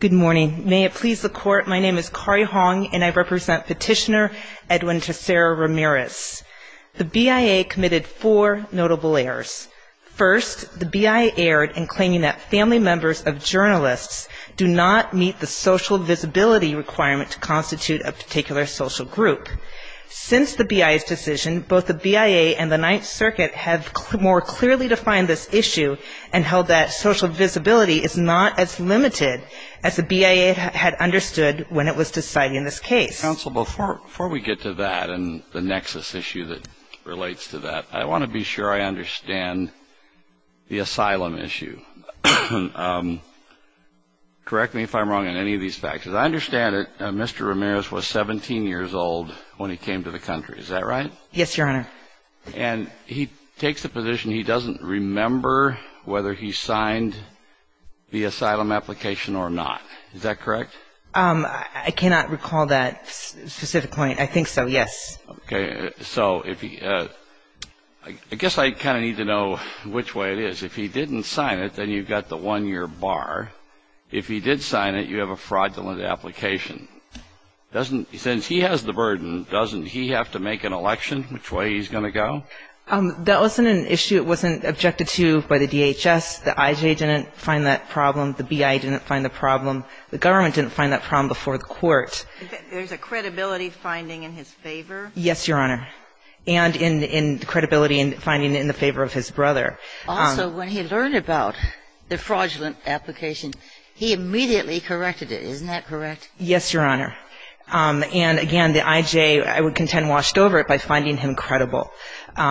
Good morning. May it please the Court, my name is Kari Hong and I represent petitioner Edwin Tessera Ramirez. The BIA committed four notable errors. First, the BIA erred in claiming that family members of journalists do not meet the social visibility requirement to constitute a particular social group. Since the BIA's decision, both the BIA and the Ninth Circuit have more clearly defined this issue and held that social visibility is not as limited as the BIA had understood when it was deciding this case. Counsel, before we get to that and the nexus issue that relates to that, I want to be sure I understand the asylum issue. Correct me if I'm wrong on any of these factors. I understand that Mr. Ramirez was 17 years old when he came to the country, is that right? Yes, Your Honor. And he takes the position he doesn't remember whether he signed the asylum application or not, is that correct? I cannot recall that specific point. I think so, yes. Okay, so I guess I kind of need to know which way it is. If he didn't sign it, then you've got the one-year bar. If he did sign it, you have a fraudulent application. Since he has the burden, doesn't he have to make an election which way he's going to go? That wasn't an issue it wasn't objected to by the DHS. The IJ didn't find that problem. The BIA didn't find the problem. The government didn't find that problem before the court. There's a credibility finding in his favor? Yes, Your Honor. And in credibility and finding in the favor of his brother. Also, when he learned about the fraudulent application, he immediately corrected it. Isn't that correct? Yes, Your Honor. And again, the IJ, I would contend, washed over it by finding him credible.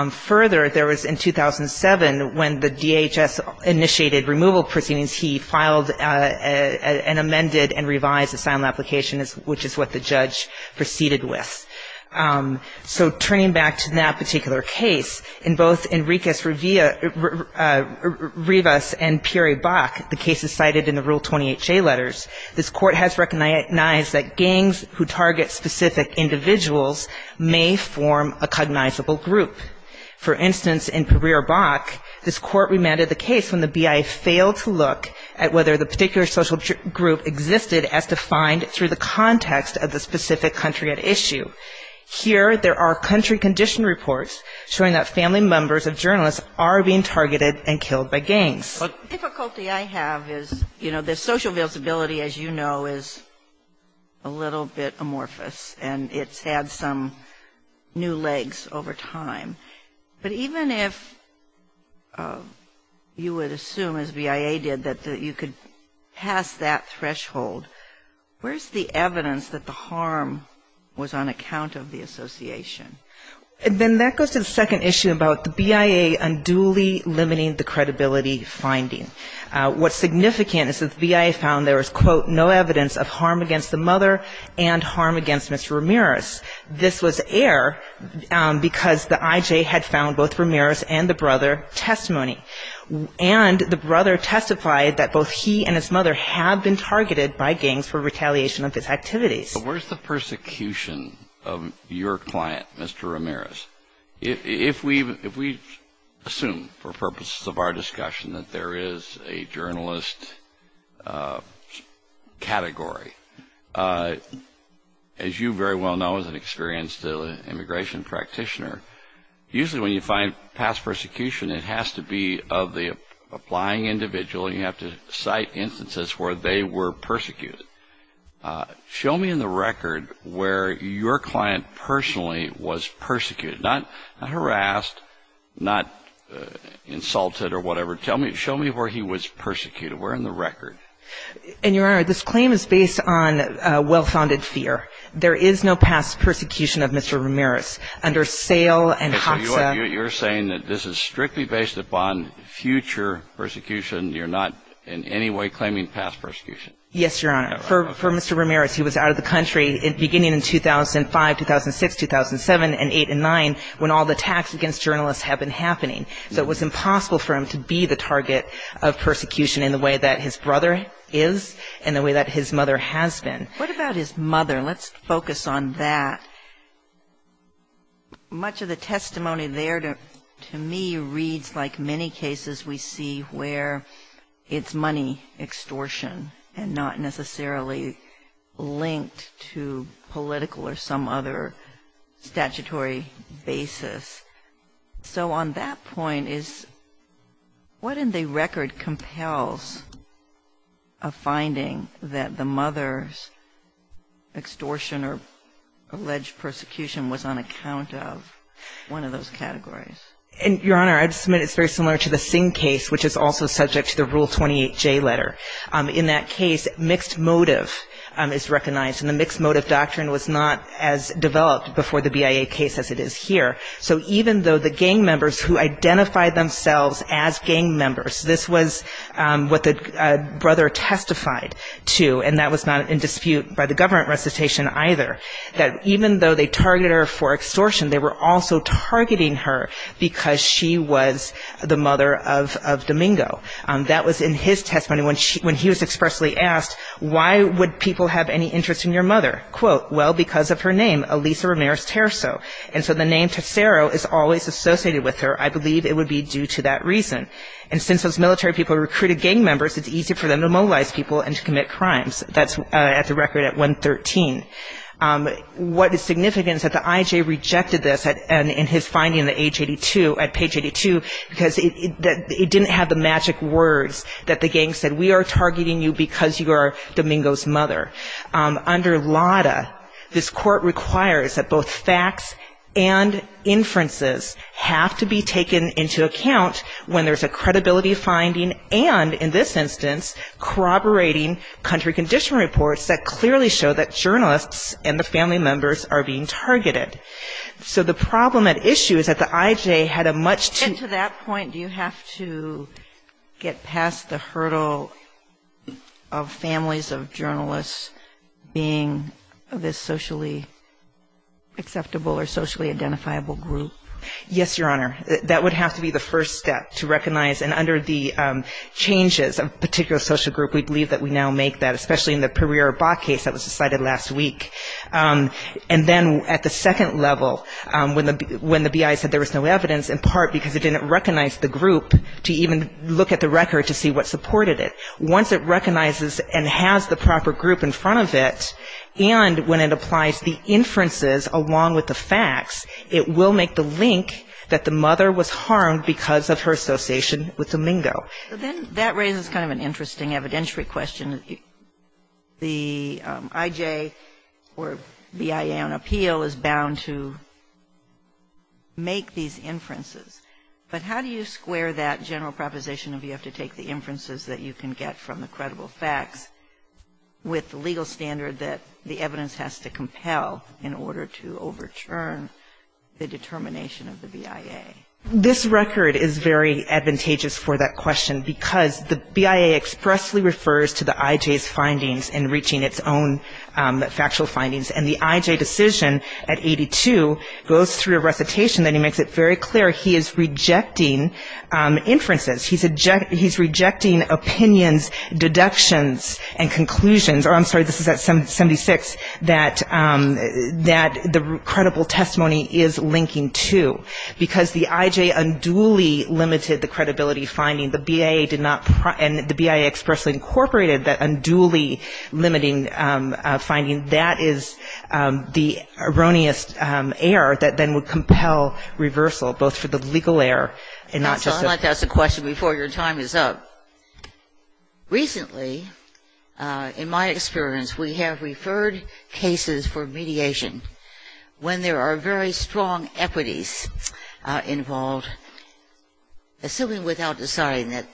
Further, there was in 2007, when the DHS initiated removal proceedings, he filed an amended and revised asylum application, which is what the judge proceeded with. So turning back to that particular case, in both Enriquez-Rivas and Pierre Bach, the cases cited in the Rule 20HA letters, this court has recognized that gangs who target specific individuals may form a cognizable group. For instance, in Pierre Bach, this court remanded the case when the BIA failed to look at whether the particular social group existed as defined through the context of the specific country at issue. Here, there are country condition reports showing that family members of journalists are being targeted and killed by gangs. The difficulty I have is, you know, the social visibility, as you know, is a little bit amorphous and it's had some new legs over time. But even if you would assume, as BIA did, that you could pass that threshold, where's the evidence that the harm was on account of the association? And then that goes to the second issue about the BIA unduly limiting the credibility finding. What's significant is that the BIA found there was, quote, no evidence of harm against the mother and harm against Mr. Ramirez. This was air because the IJ had found both Ramirez and the brother testimony. And the brother testified that both he and his mother had been targeted by gangs for retaliation of his activities. Where's the persecution of your client, Mr. Ramirez? If we assume, for purposes of our discussion, that there is a journalist category, as you very well know as an experienced immigration practitioner, usually when you find past persecution, it has to be of the applying individual. You have to cite instances where they were persecuted. Show me in the record where your client personally was persecuted. Not harassed, not insulted or whatever. Show me where he was persecuted. Where in the record? And, Your Honor, this claim is based on well-founded fear. There is no past persecution of Mr. Ramirez. Under sale and HACSA. So you're saying that this is strictly based upon future persecution. You're not in any way claiming past persecution? Yes, Your Honor. For Mr. Ramirez, he was out of the country beginning in 2005, 2006, 2007 and 2008 and 2009 when all the attacks against journalists have been happening. So it was impossible for him to be the target of persecution in the way that his brother is and the way that his mother has been. What about his mother? Let's focus on that. Much of the testimony there to me reads like many cases we see where it's money extortion and not necessarily linked to political or some other statutory basis. So on that point, what in the record compels a finding that the mother's extortion or alleged persecution was on account of one of those categories? Your Honor, I would submit it's very similar to the Singh case, which is also subject to the Rule 28J letter. In that case, mixed motive is recognized, and the mixed motive doctrine was not as developed before the BIA case as it is here. So even though the gang members who identified themselves as gang members, this was what the brother testified to, and that was not in dispute by the government recitation either, that even though they targeted her for extortion, they were also targeting her because she was the mother of Domingo. That was in his testimony when he was expressly asked, why would people have any interest in your mother? Quote, well, because of her name, Elisa Ramirez-Terso. And so the name Tesero is always associated with her. I believe it would be due to that reason. And since those military people recruited gang members, it's easy for them to mobilize people and to commit crimes. That's at the record at 113. What is significant is that the IJ rejected this in his finding at page 82, because it didn't have the magic words that the gang said, we are targeting you because you are Domingo's mother. Under LADA, this court requires that both facts and inferences have to be taken into account when there's a credibility finding and, in this instance, corroborating country conditional reports that clearly show that journalists and the family members are being targeted. So the problem at issue is that the IJ had a much too... At that point, do you have to get past the hurdle of families of journalists being this socially acceptable or socially identifiable group? Yes, Your Honor. That would have to be the first step to recognize. And under the changes of a particular social group, we believe that we now make that, especially in the Pereira-Bach case that was decided last week. And then at the second level, when the BI said there was no evidence, in part because it didn't recognize the group to even look at the record to see what supported it. Once it recognizes and has the proper group in front of it, and when it applies the inferences along with the facts, it will make the link that the mother was harmed because of her association with Domingo. But then that raises kind of an interesting evidentiary question. The IJ or BIA on appeal is bound to make these inferences. But how do you square that general proposition of you have to take the inferences that you can get from the credible facts with the legal standard that the evidence has to compel in order to overturn the determination of the BIA? This record is very advantageous for that question because the BIA expressly refers to the IJ's findings in reaching its own factual findings. And the IJ decision at 82 goes through a recitation that he makes it very clear he is rejecting inferences. He's rejecting opinions, deductions, and conclusions. I'm sorry, this is at 76, that the credible testimony is linking to. Because the IJ unduly limited the credibility finding. The BIA did not, and the BIA expressly incorporated that unduly limiting finding. That is the erroneous error that then would compel reversal, both for the legal error and not just the. I'd like to ask a question before your time is up. Recently, in my experience, we have referred cases for mediation when there are very strong equities involved. Assuming without deciding that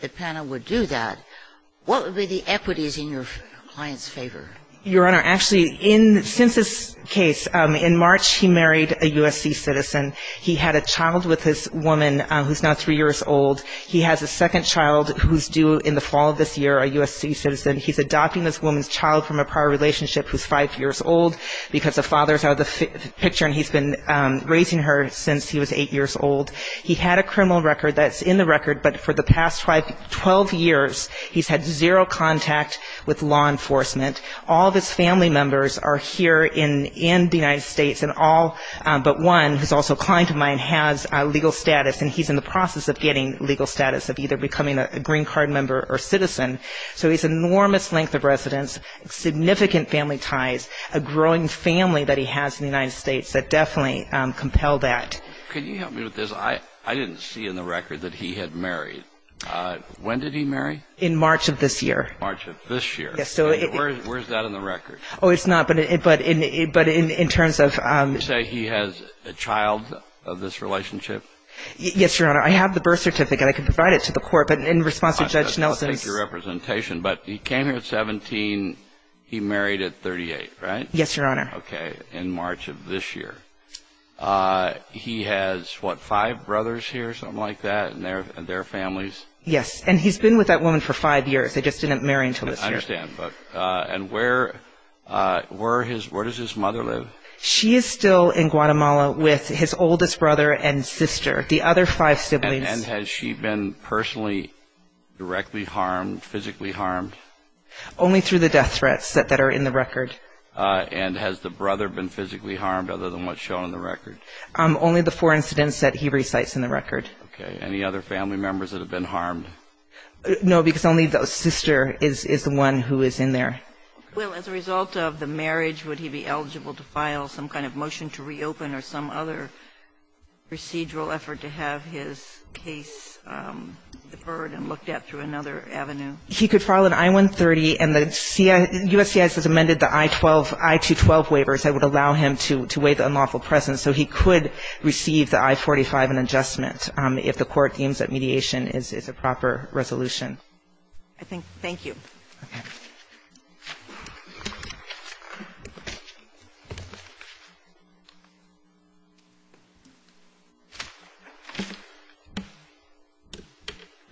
the panel would do that, what would be the equities in your client's favor? Your Honor, actually, since this case, in March he married a USC citizen. He had a child with this woman who's now 3 years old. He has a second child who's due in the fall of this year, a USC citizen. He's adopting this woman's child from a prior relationship who's 5 years old because the father's out of the picture and he's been raising her since he was 8 years old. He had a criminal record that's in the record, but for the past 12 years, he's had zero contact with law enforcement. All of his family members are here in the United States and all but one, who's also a client of mine, has legal status and he's in the process of getting legal status of either becoming a green card member or citizen. So he's an enormous length of residence, significant family ties, a growing family that he has in the United States that definitely compel that. Can you help me with this? I didn't see in the record that he had married. When did he marry? In March of this year. March of this year. Where's that in the record? Oh, it's not, but in terms of... You say he has a child of this relationship? Yes, Your Honor. I have the birth certificate. I can provide it to the court, but in response to Judge Nelson's... I'll take your representation, but he came here at 17, he married at 38, right? Yes, Your Honor. Okay, in March of this year. He has, what, five brothers here, something like that, and their families? Yes, and he's been with that woman for five years. They just didn't marry until this year. I understand. And where does his mother live? She is still in Guatemala with his oldest brother and sister, the other five siblings. And has she been personally directly harmed, physically harmed? Only through the death threats that are in the record. And has the brother been physically harmed other than what's shown in the record? Only the four incidents that he recites in the record. Okay. Any other family members that have been harmed? No, because only the sister is the one who is in there. Well, as a result of the marriage, would he be eligible to file some kind of motion to reopen or some other procedural effort to have his case deferred and looked at through another avenue? He could file an I-130, and the USCIS has amended the I-12, I-212 waivers that would allow him to waive the unlawful presence. So he could receive the I-45, an adjustment, if the Court deems that mediation is a proper resolution. Thank you.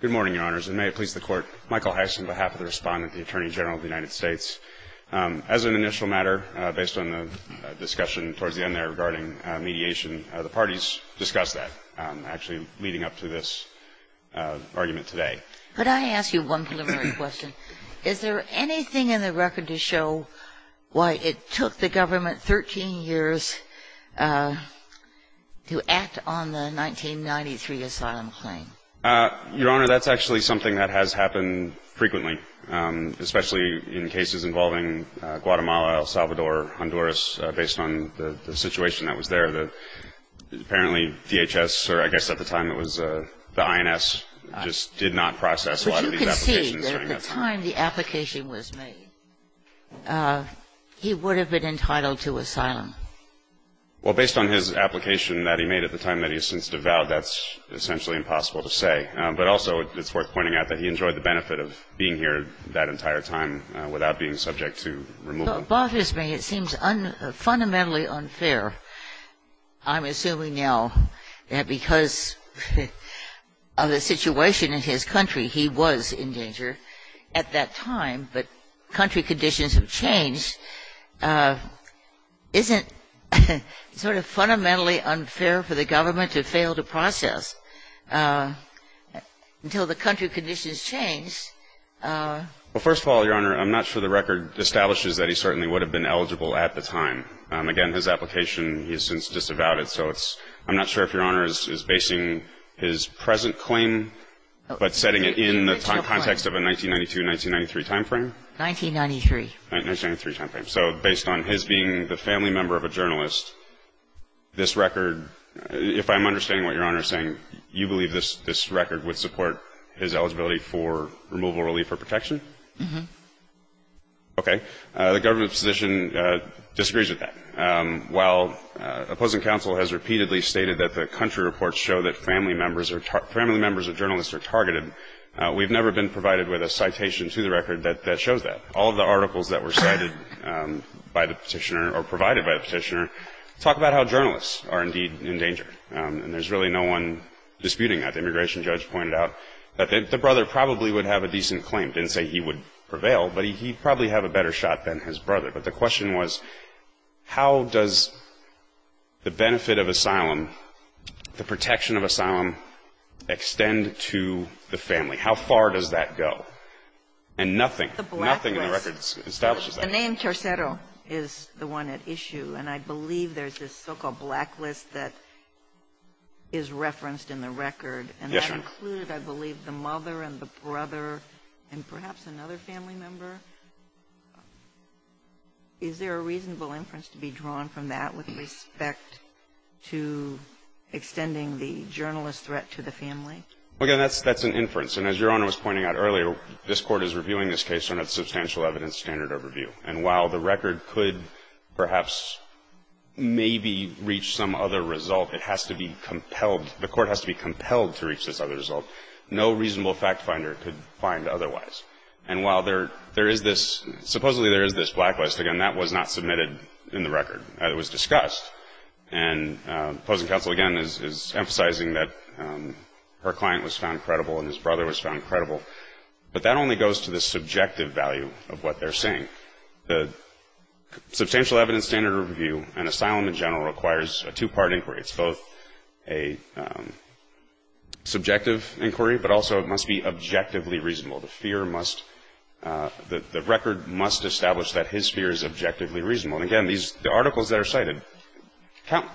Good morning, Your Honors, and may it please the Court. Michael Heiss on behalf of the Respondent, the Attorney General of the United States. As an initial matter, based on the discussion towards the end there regarding mediation, the parties discussed that, actually leading up to this argument today. Could I ask you one preliminary question? Is there anything in the record to show why it took the government 13 years to act on the 1993 asylum claim? Your Honor, that's actually something that has happened frequently, especially in cases involving Guatemala, El Salvador, Honduras, based on the situation that was there. Apparently DHS, or I guess at the time it was the INS, just did not process a lot of these applications. But you can see that at the time the application was made, he would have been entitled to asylum. Well, based on his application that he made at the time that he is since devoured, that's essentially impossible to say. But also it's worth pointing out that he enjoyed the benefit of being here that entire time without being subject to removal. So it bothers me. It seems fundamentally unfair. I'm assuming now that because of the situation in his country, he was in danger at that time, but country conditions have changed. Isn't it sort of fundamentally unfair for the government to fail to process until the country conditions change? Well, first of all, Your Honor, I'm not sure the record establishes that he certainly would have been eligible at the time. Again, his application, he's since disavowed it, so I'm not sure if Your Honor is basing his present claim but setting it in the context of a 1992-1993 timeframe. 1993. 1993 timeframe. So based on his being the family member of a journalist, this record, if I'm understanding what Your Honor is saying, you believe this record would support his eligibility for removal, relief, or protection? Mm-hmm. Okay. The government position disagrees with that. While opposing counsel has repeatedly stated that the country reports show that family members of journalists are targeted, we've never been provided with a citation to the record that shows that. All of the articles that were cited by the petitioner or provided by the petitioner talk about how journalists are indeed in danger. And there's really no one disputing that. The immigration judge pointed out that the brother probably would have a decent claim. Didn't say he would prevail, but he'd probably have a better shot than his brother. But the question was, how does the benefit of asylum, the protection of asylum, extend to the family? How far does that go? And nothing, nothing in the record establishes that. The name Tercero is the one at issue, and I believe there's this so-called blacklist that is referenced in the record. Yes, Your Honor. And that included, I believe, the mother and the brother and perhaps another family member. Is there a reasonable inference to be drawn from that with respect to extending the journalist threat to the family? Well, again, that's an inference. And as Your Honor was pointing out earlier, this Court is reviewing this case under the substantial evidence standard overview. And while the record could perhaps maybe reach some other result, it has to be compelled, the Court has to be compelled to reach this other result. No reasonable fact finder could find otherwise. And while there is this, supposedly there is this blacklist, again, that was not submitted in the record. It was discussed. And opposing counsel, again, is emphasizing that her client was found credible and his brother was found credible. But that only goes to the subjective value of what they're saying. The substantial evidence standard overview and asylum in general requires a two-part inquiry. It's both a subjective inquiry, but also it must be objectively reasonable. The fear must, the record must establish that his fear is objectively reasonable. And again, these articles that are cited,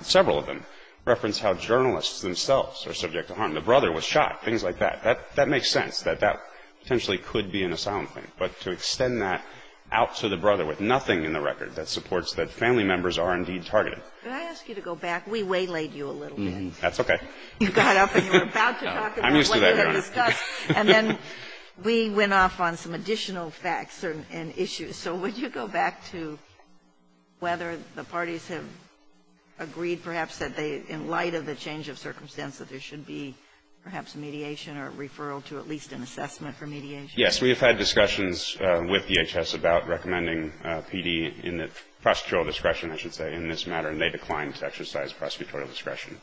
several of them reference how journalists themselves are subject to harm. The brother was shot, things like that. That makes sense, that that potentially could be an asylum claim. But to extend that out to the brother with nothing in the record that supports that family members are indeed targeted. Could I ask you to go back? We waylaid you a little bit. That's okay. You got up and you were about to talk about what you had discussed. I'm used to that, Your Honor. And then we went off on some additional facts and issues. So would you go back to whether the parties have agreed perhaps that they, in light of the change of circumstance, that there should be perhaps mediation or referral to at least an assessment for mediation? Yes. We have had discussions with DHS about recommending PD in the prosecutorial discretion, I should say, in this matter. And they declined to exercise prosecutorial discretion.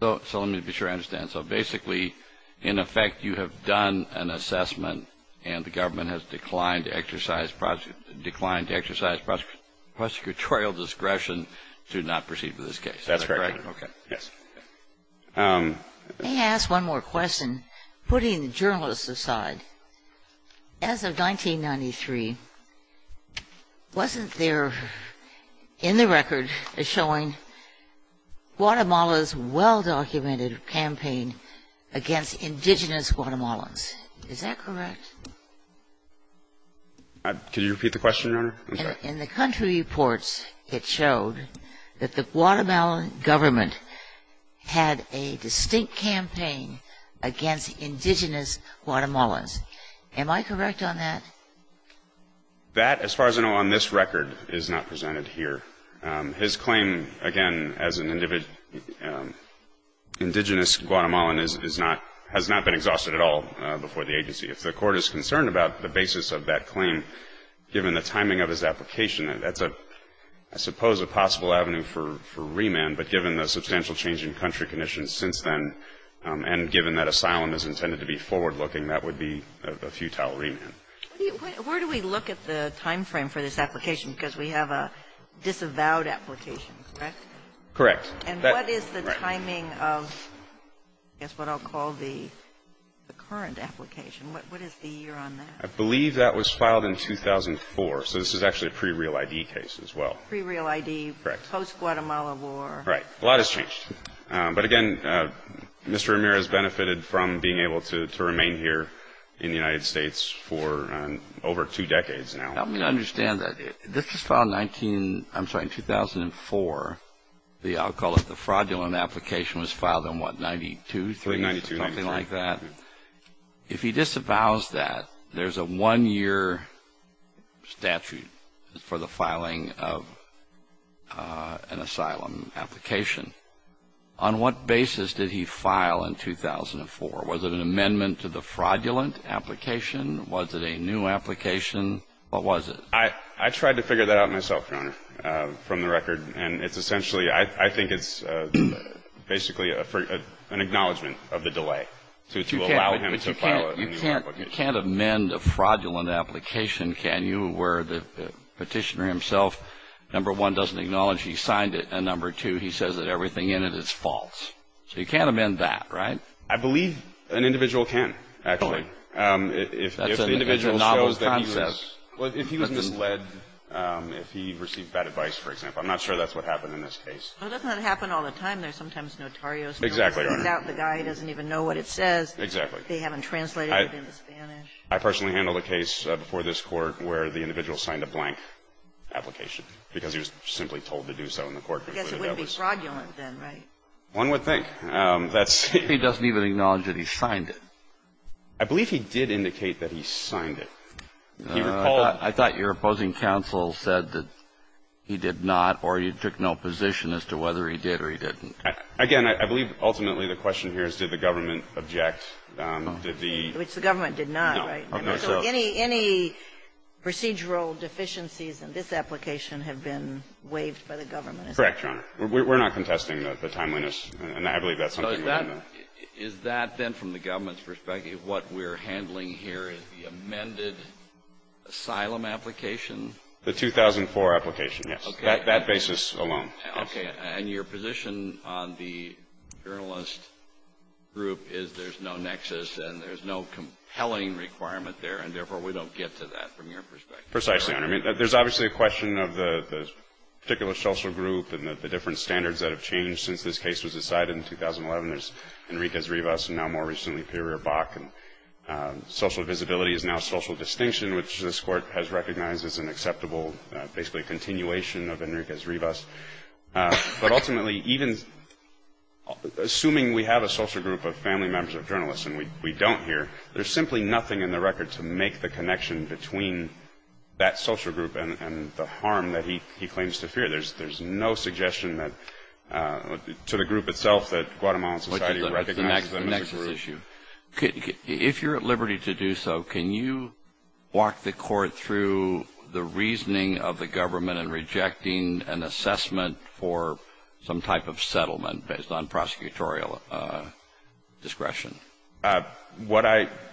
So let me be sure I understand. So basically, in effect, you have done an assessment and the government has declined to exercise prosecutorial discretion to not proceed with this case. Is that correct? That's correct. Okay. Yes. May I ask one more question? Putting the journalists aside, as of 1993, wasn't there in the record a showing Guatemala's well-documented campaign against indigenous Guatemalans? Is that correct? Could you repeat the question, Your Honor? In the country reports, it showed that the Guatemalan government had a distinct campaign against indigenous Guatemalans. Am I correct on that? That, as far as I know on this record, is not presented here. His claim, again, as an indigenous Guatemalan has not been exhausted at all before the agency. If the Court is concerned about the basis of that claim, given the timing of his application, that's a, I suppose, a possible avenue for remand. But given the substantial change in country conditions since then, and given that asylum is intended to be forward-looking, that would be a futile remand. Where do we look at the timeframe for this application? Because we have a disavowed application, correct? Correct. And what is the timing of, I guess, what I'll call the current application? What is the year on that? I believe that was filed in 2004. So this is actually a pre-real ID case as well. Pre-real ID. Correct. Post-Guatemala war. Right. A lot has changed. But, again, Mr. Ramirez benefited from being able to remain here in the United States for over two decades now. Let me understand that. This was filed in 19, I'm sorry, 2004. I'll call it the fraudulent application was filed in what, 92? 93. Something like that. If he disavows that, there's a one-year statute for the filing of an asylum application. On what basis did he file in 2004? Was it an amendment to the fraudulent application? Was it a new application? What was it? I tried to figure that out myself, Your Honor, from the record. And it's essentially, I think it's basically an acknowledgement of the delay to allow him to file an application. But you can't amend a fraudulent application, can you, where the petitioner himself, number one, doesn't acknowledge he signed it, and number two, he says that everything in it is false. So you can't amend that, right? I believe an individual can, actually. That's an individual's novel concept. Well, if he was misled, if he received bad advice, for example. I'm not sure that's what happened in this case. Well, doesn't that happen all the time? There's sometimes notarios. Exactly, Your Honor. Without the guy, he doesn't even know what it says. Exactly. They haven't translated it into Spanish. I personally handled a case before this Court where the individual signed a blank application because he was simply told to do so in the court. Because it wouldn't be fraudulent then, right? One would think. That's the thing. He doesn't even acknowledge that he signed it. I believe he did indicate that he signed it. Can you recall? I thought your opposing counsel said that he did not, or you took no position as to whether he did or he didn't. Again, I believe ultimately the question here is did the government object? Did the ---- Which the government did not, right? No. So any procedural deficiencies in this application have been waived by the government, is that correct? Correct, Your Honor. We're not contesting the timeliness. And I believe that's something within the ---- Is that then from the government's perspective what we're handling here is the amended asylum application? The 2004 application, yes. Okay. That basis alone. Okay. And your position on the journalist group is there's no nexus and there's no compelling requirement there, and therefore we don't get to that from your perspective. Precisely, Your Honor. I mean, there's obviously a question of the particular social group and the different standards that have changed since this case was decided in 2011. There's Enriquez-Rivas, and now more recently, Pereira-Bach. Social visibility is now social distinction, which this Court has recognized as an acceptable basically continuation of Enriquez-Rivas. But ultimately, even assuming we have a social group of family members of journalists and we don't here, there's simply nothing in the record to make the connection between that social group and the harm that he claims to fear. There's no suggestion to the group itself that Guatemalan society recognizes them as a group. The nexus issue. If you're at liberty to do so, can you walk the Court through the reasoning of the government in rejecting an assessment for some type of settlement based on prosecutorial discretion? And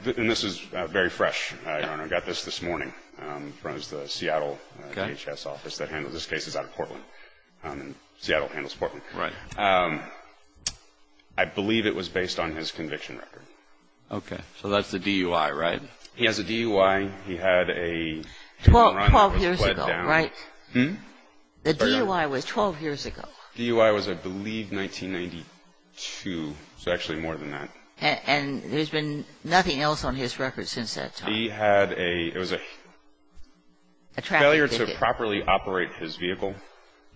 this is very fresh, Your Honor. I got this this morning from the Seattle DHS office that handled this case. This is out of Portland, and Seattle handles Portland. Right. I believe it was based on his conviction record. Okay. So that's the DUI, right? He has a DUI. He had a- Twelve years ago, right? The DUI was 12 years ago. The DUI was, I believe, 1992, so actually more than that. And there's been nothing else on his record since that time? He had a, it was a failure to properly operate his vehicle.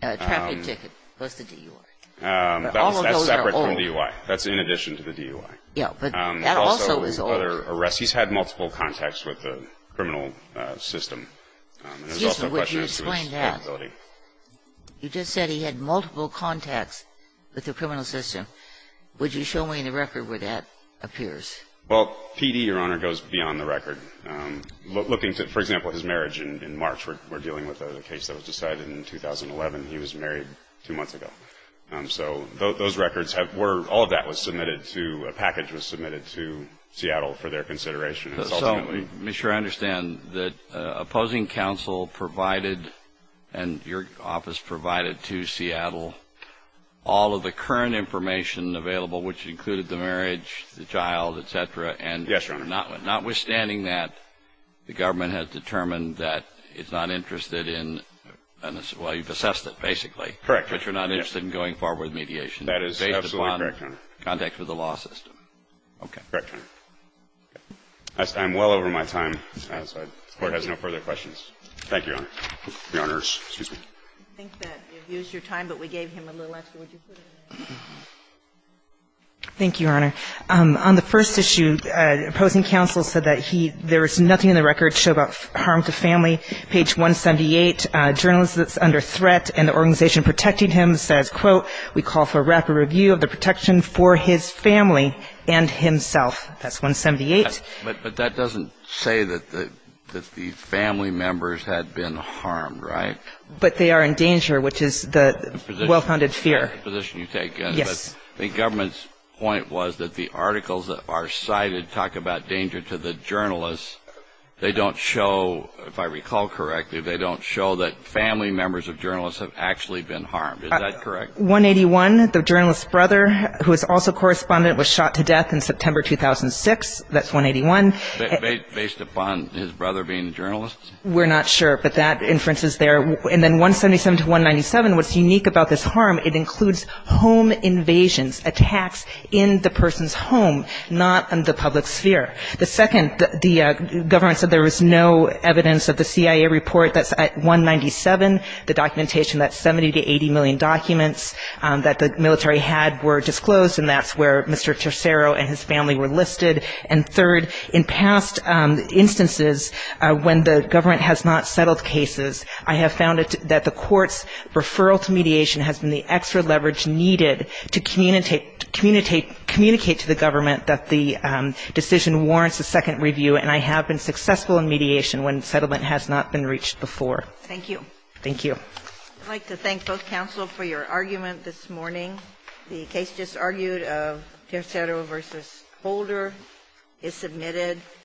A traffic ticket was the DUI. But all of those are old. That's in addition to the DUI. Yeah, but that also is old. He's had multiple contacts with the criminal system. Excuse me. Would you explain that? You just said he had multiple contacts with the criminal system. Would you show me the record where that appears? Well, PD, Your Honor, goes beyond the record. Looking to, for example, his marriage in March, we're dealing with a case that was decided in 2011. He was married two months ago. So those records have, all of that was submitted to, a package was submitted to Seattle for their consideration. So let me make sure I understand that opposing counsel provided, and your office provided to Seattle, all of the current information available, Yes, Your Honor. notwithstanding that the government has determined that it's not interested in, well, you've assessed it, basically. Correct. But you're not interested in going forward with mediation. That is absolutely correct, Your Honor. Based upon contacts with the law system. Okay. Correct, Your Honor. I'm well over my time, so the Court has no further questions. Thank you, Your Honor. Your Honor, excuse me. I think that you've used your time, but we gave him a little extra. Would you put it in there? Thank you, Your Honor. On the first issue, opposing counsel said that he, there is nothing in the record to show about harm to family. Page 178, a journalist that's under threat, and the organization protecting him says, quote, we call for a rapid review of the protection for his family and himself. That's 178. But that doesn't say that the family members had been harmed, right? But they are in danger, which is the well-founded fear. The position you take. Yes. I think the government's point was that the articles that are cited talk about danger to the journalists. They don't show, if I recall correctly, they don't show that family members of journalists have actually been harmed. Is that correct? 181, the journalist's brother, who is also correspondent, was shot to death in September 2006. That's 181. Based upon his brother being a journalist? We're not sure, but that inference is there. And then 177 to 197, what's unique about this harm, it includes home invasions, attacks in the person's home, not in the public sphere. The second, the government said there was no evidence of the CIA report. That's 197. The documentation, that's 70 to 80 million documents that the military had were disclosed, and that's where Mr. Tercero and his family were listed. And third, in past instances, when the government has not settled cases, I have found that the court's referral to mediation has been the extra leverage needed to communicate to the government that the decision warrants a second review, and I have been successful in mediation when settlement has not been reached before. Thank you. Thank you. I'd like to thank both counsel for your argument this morning. The case just argued of Tercero v. Holder is submitted.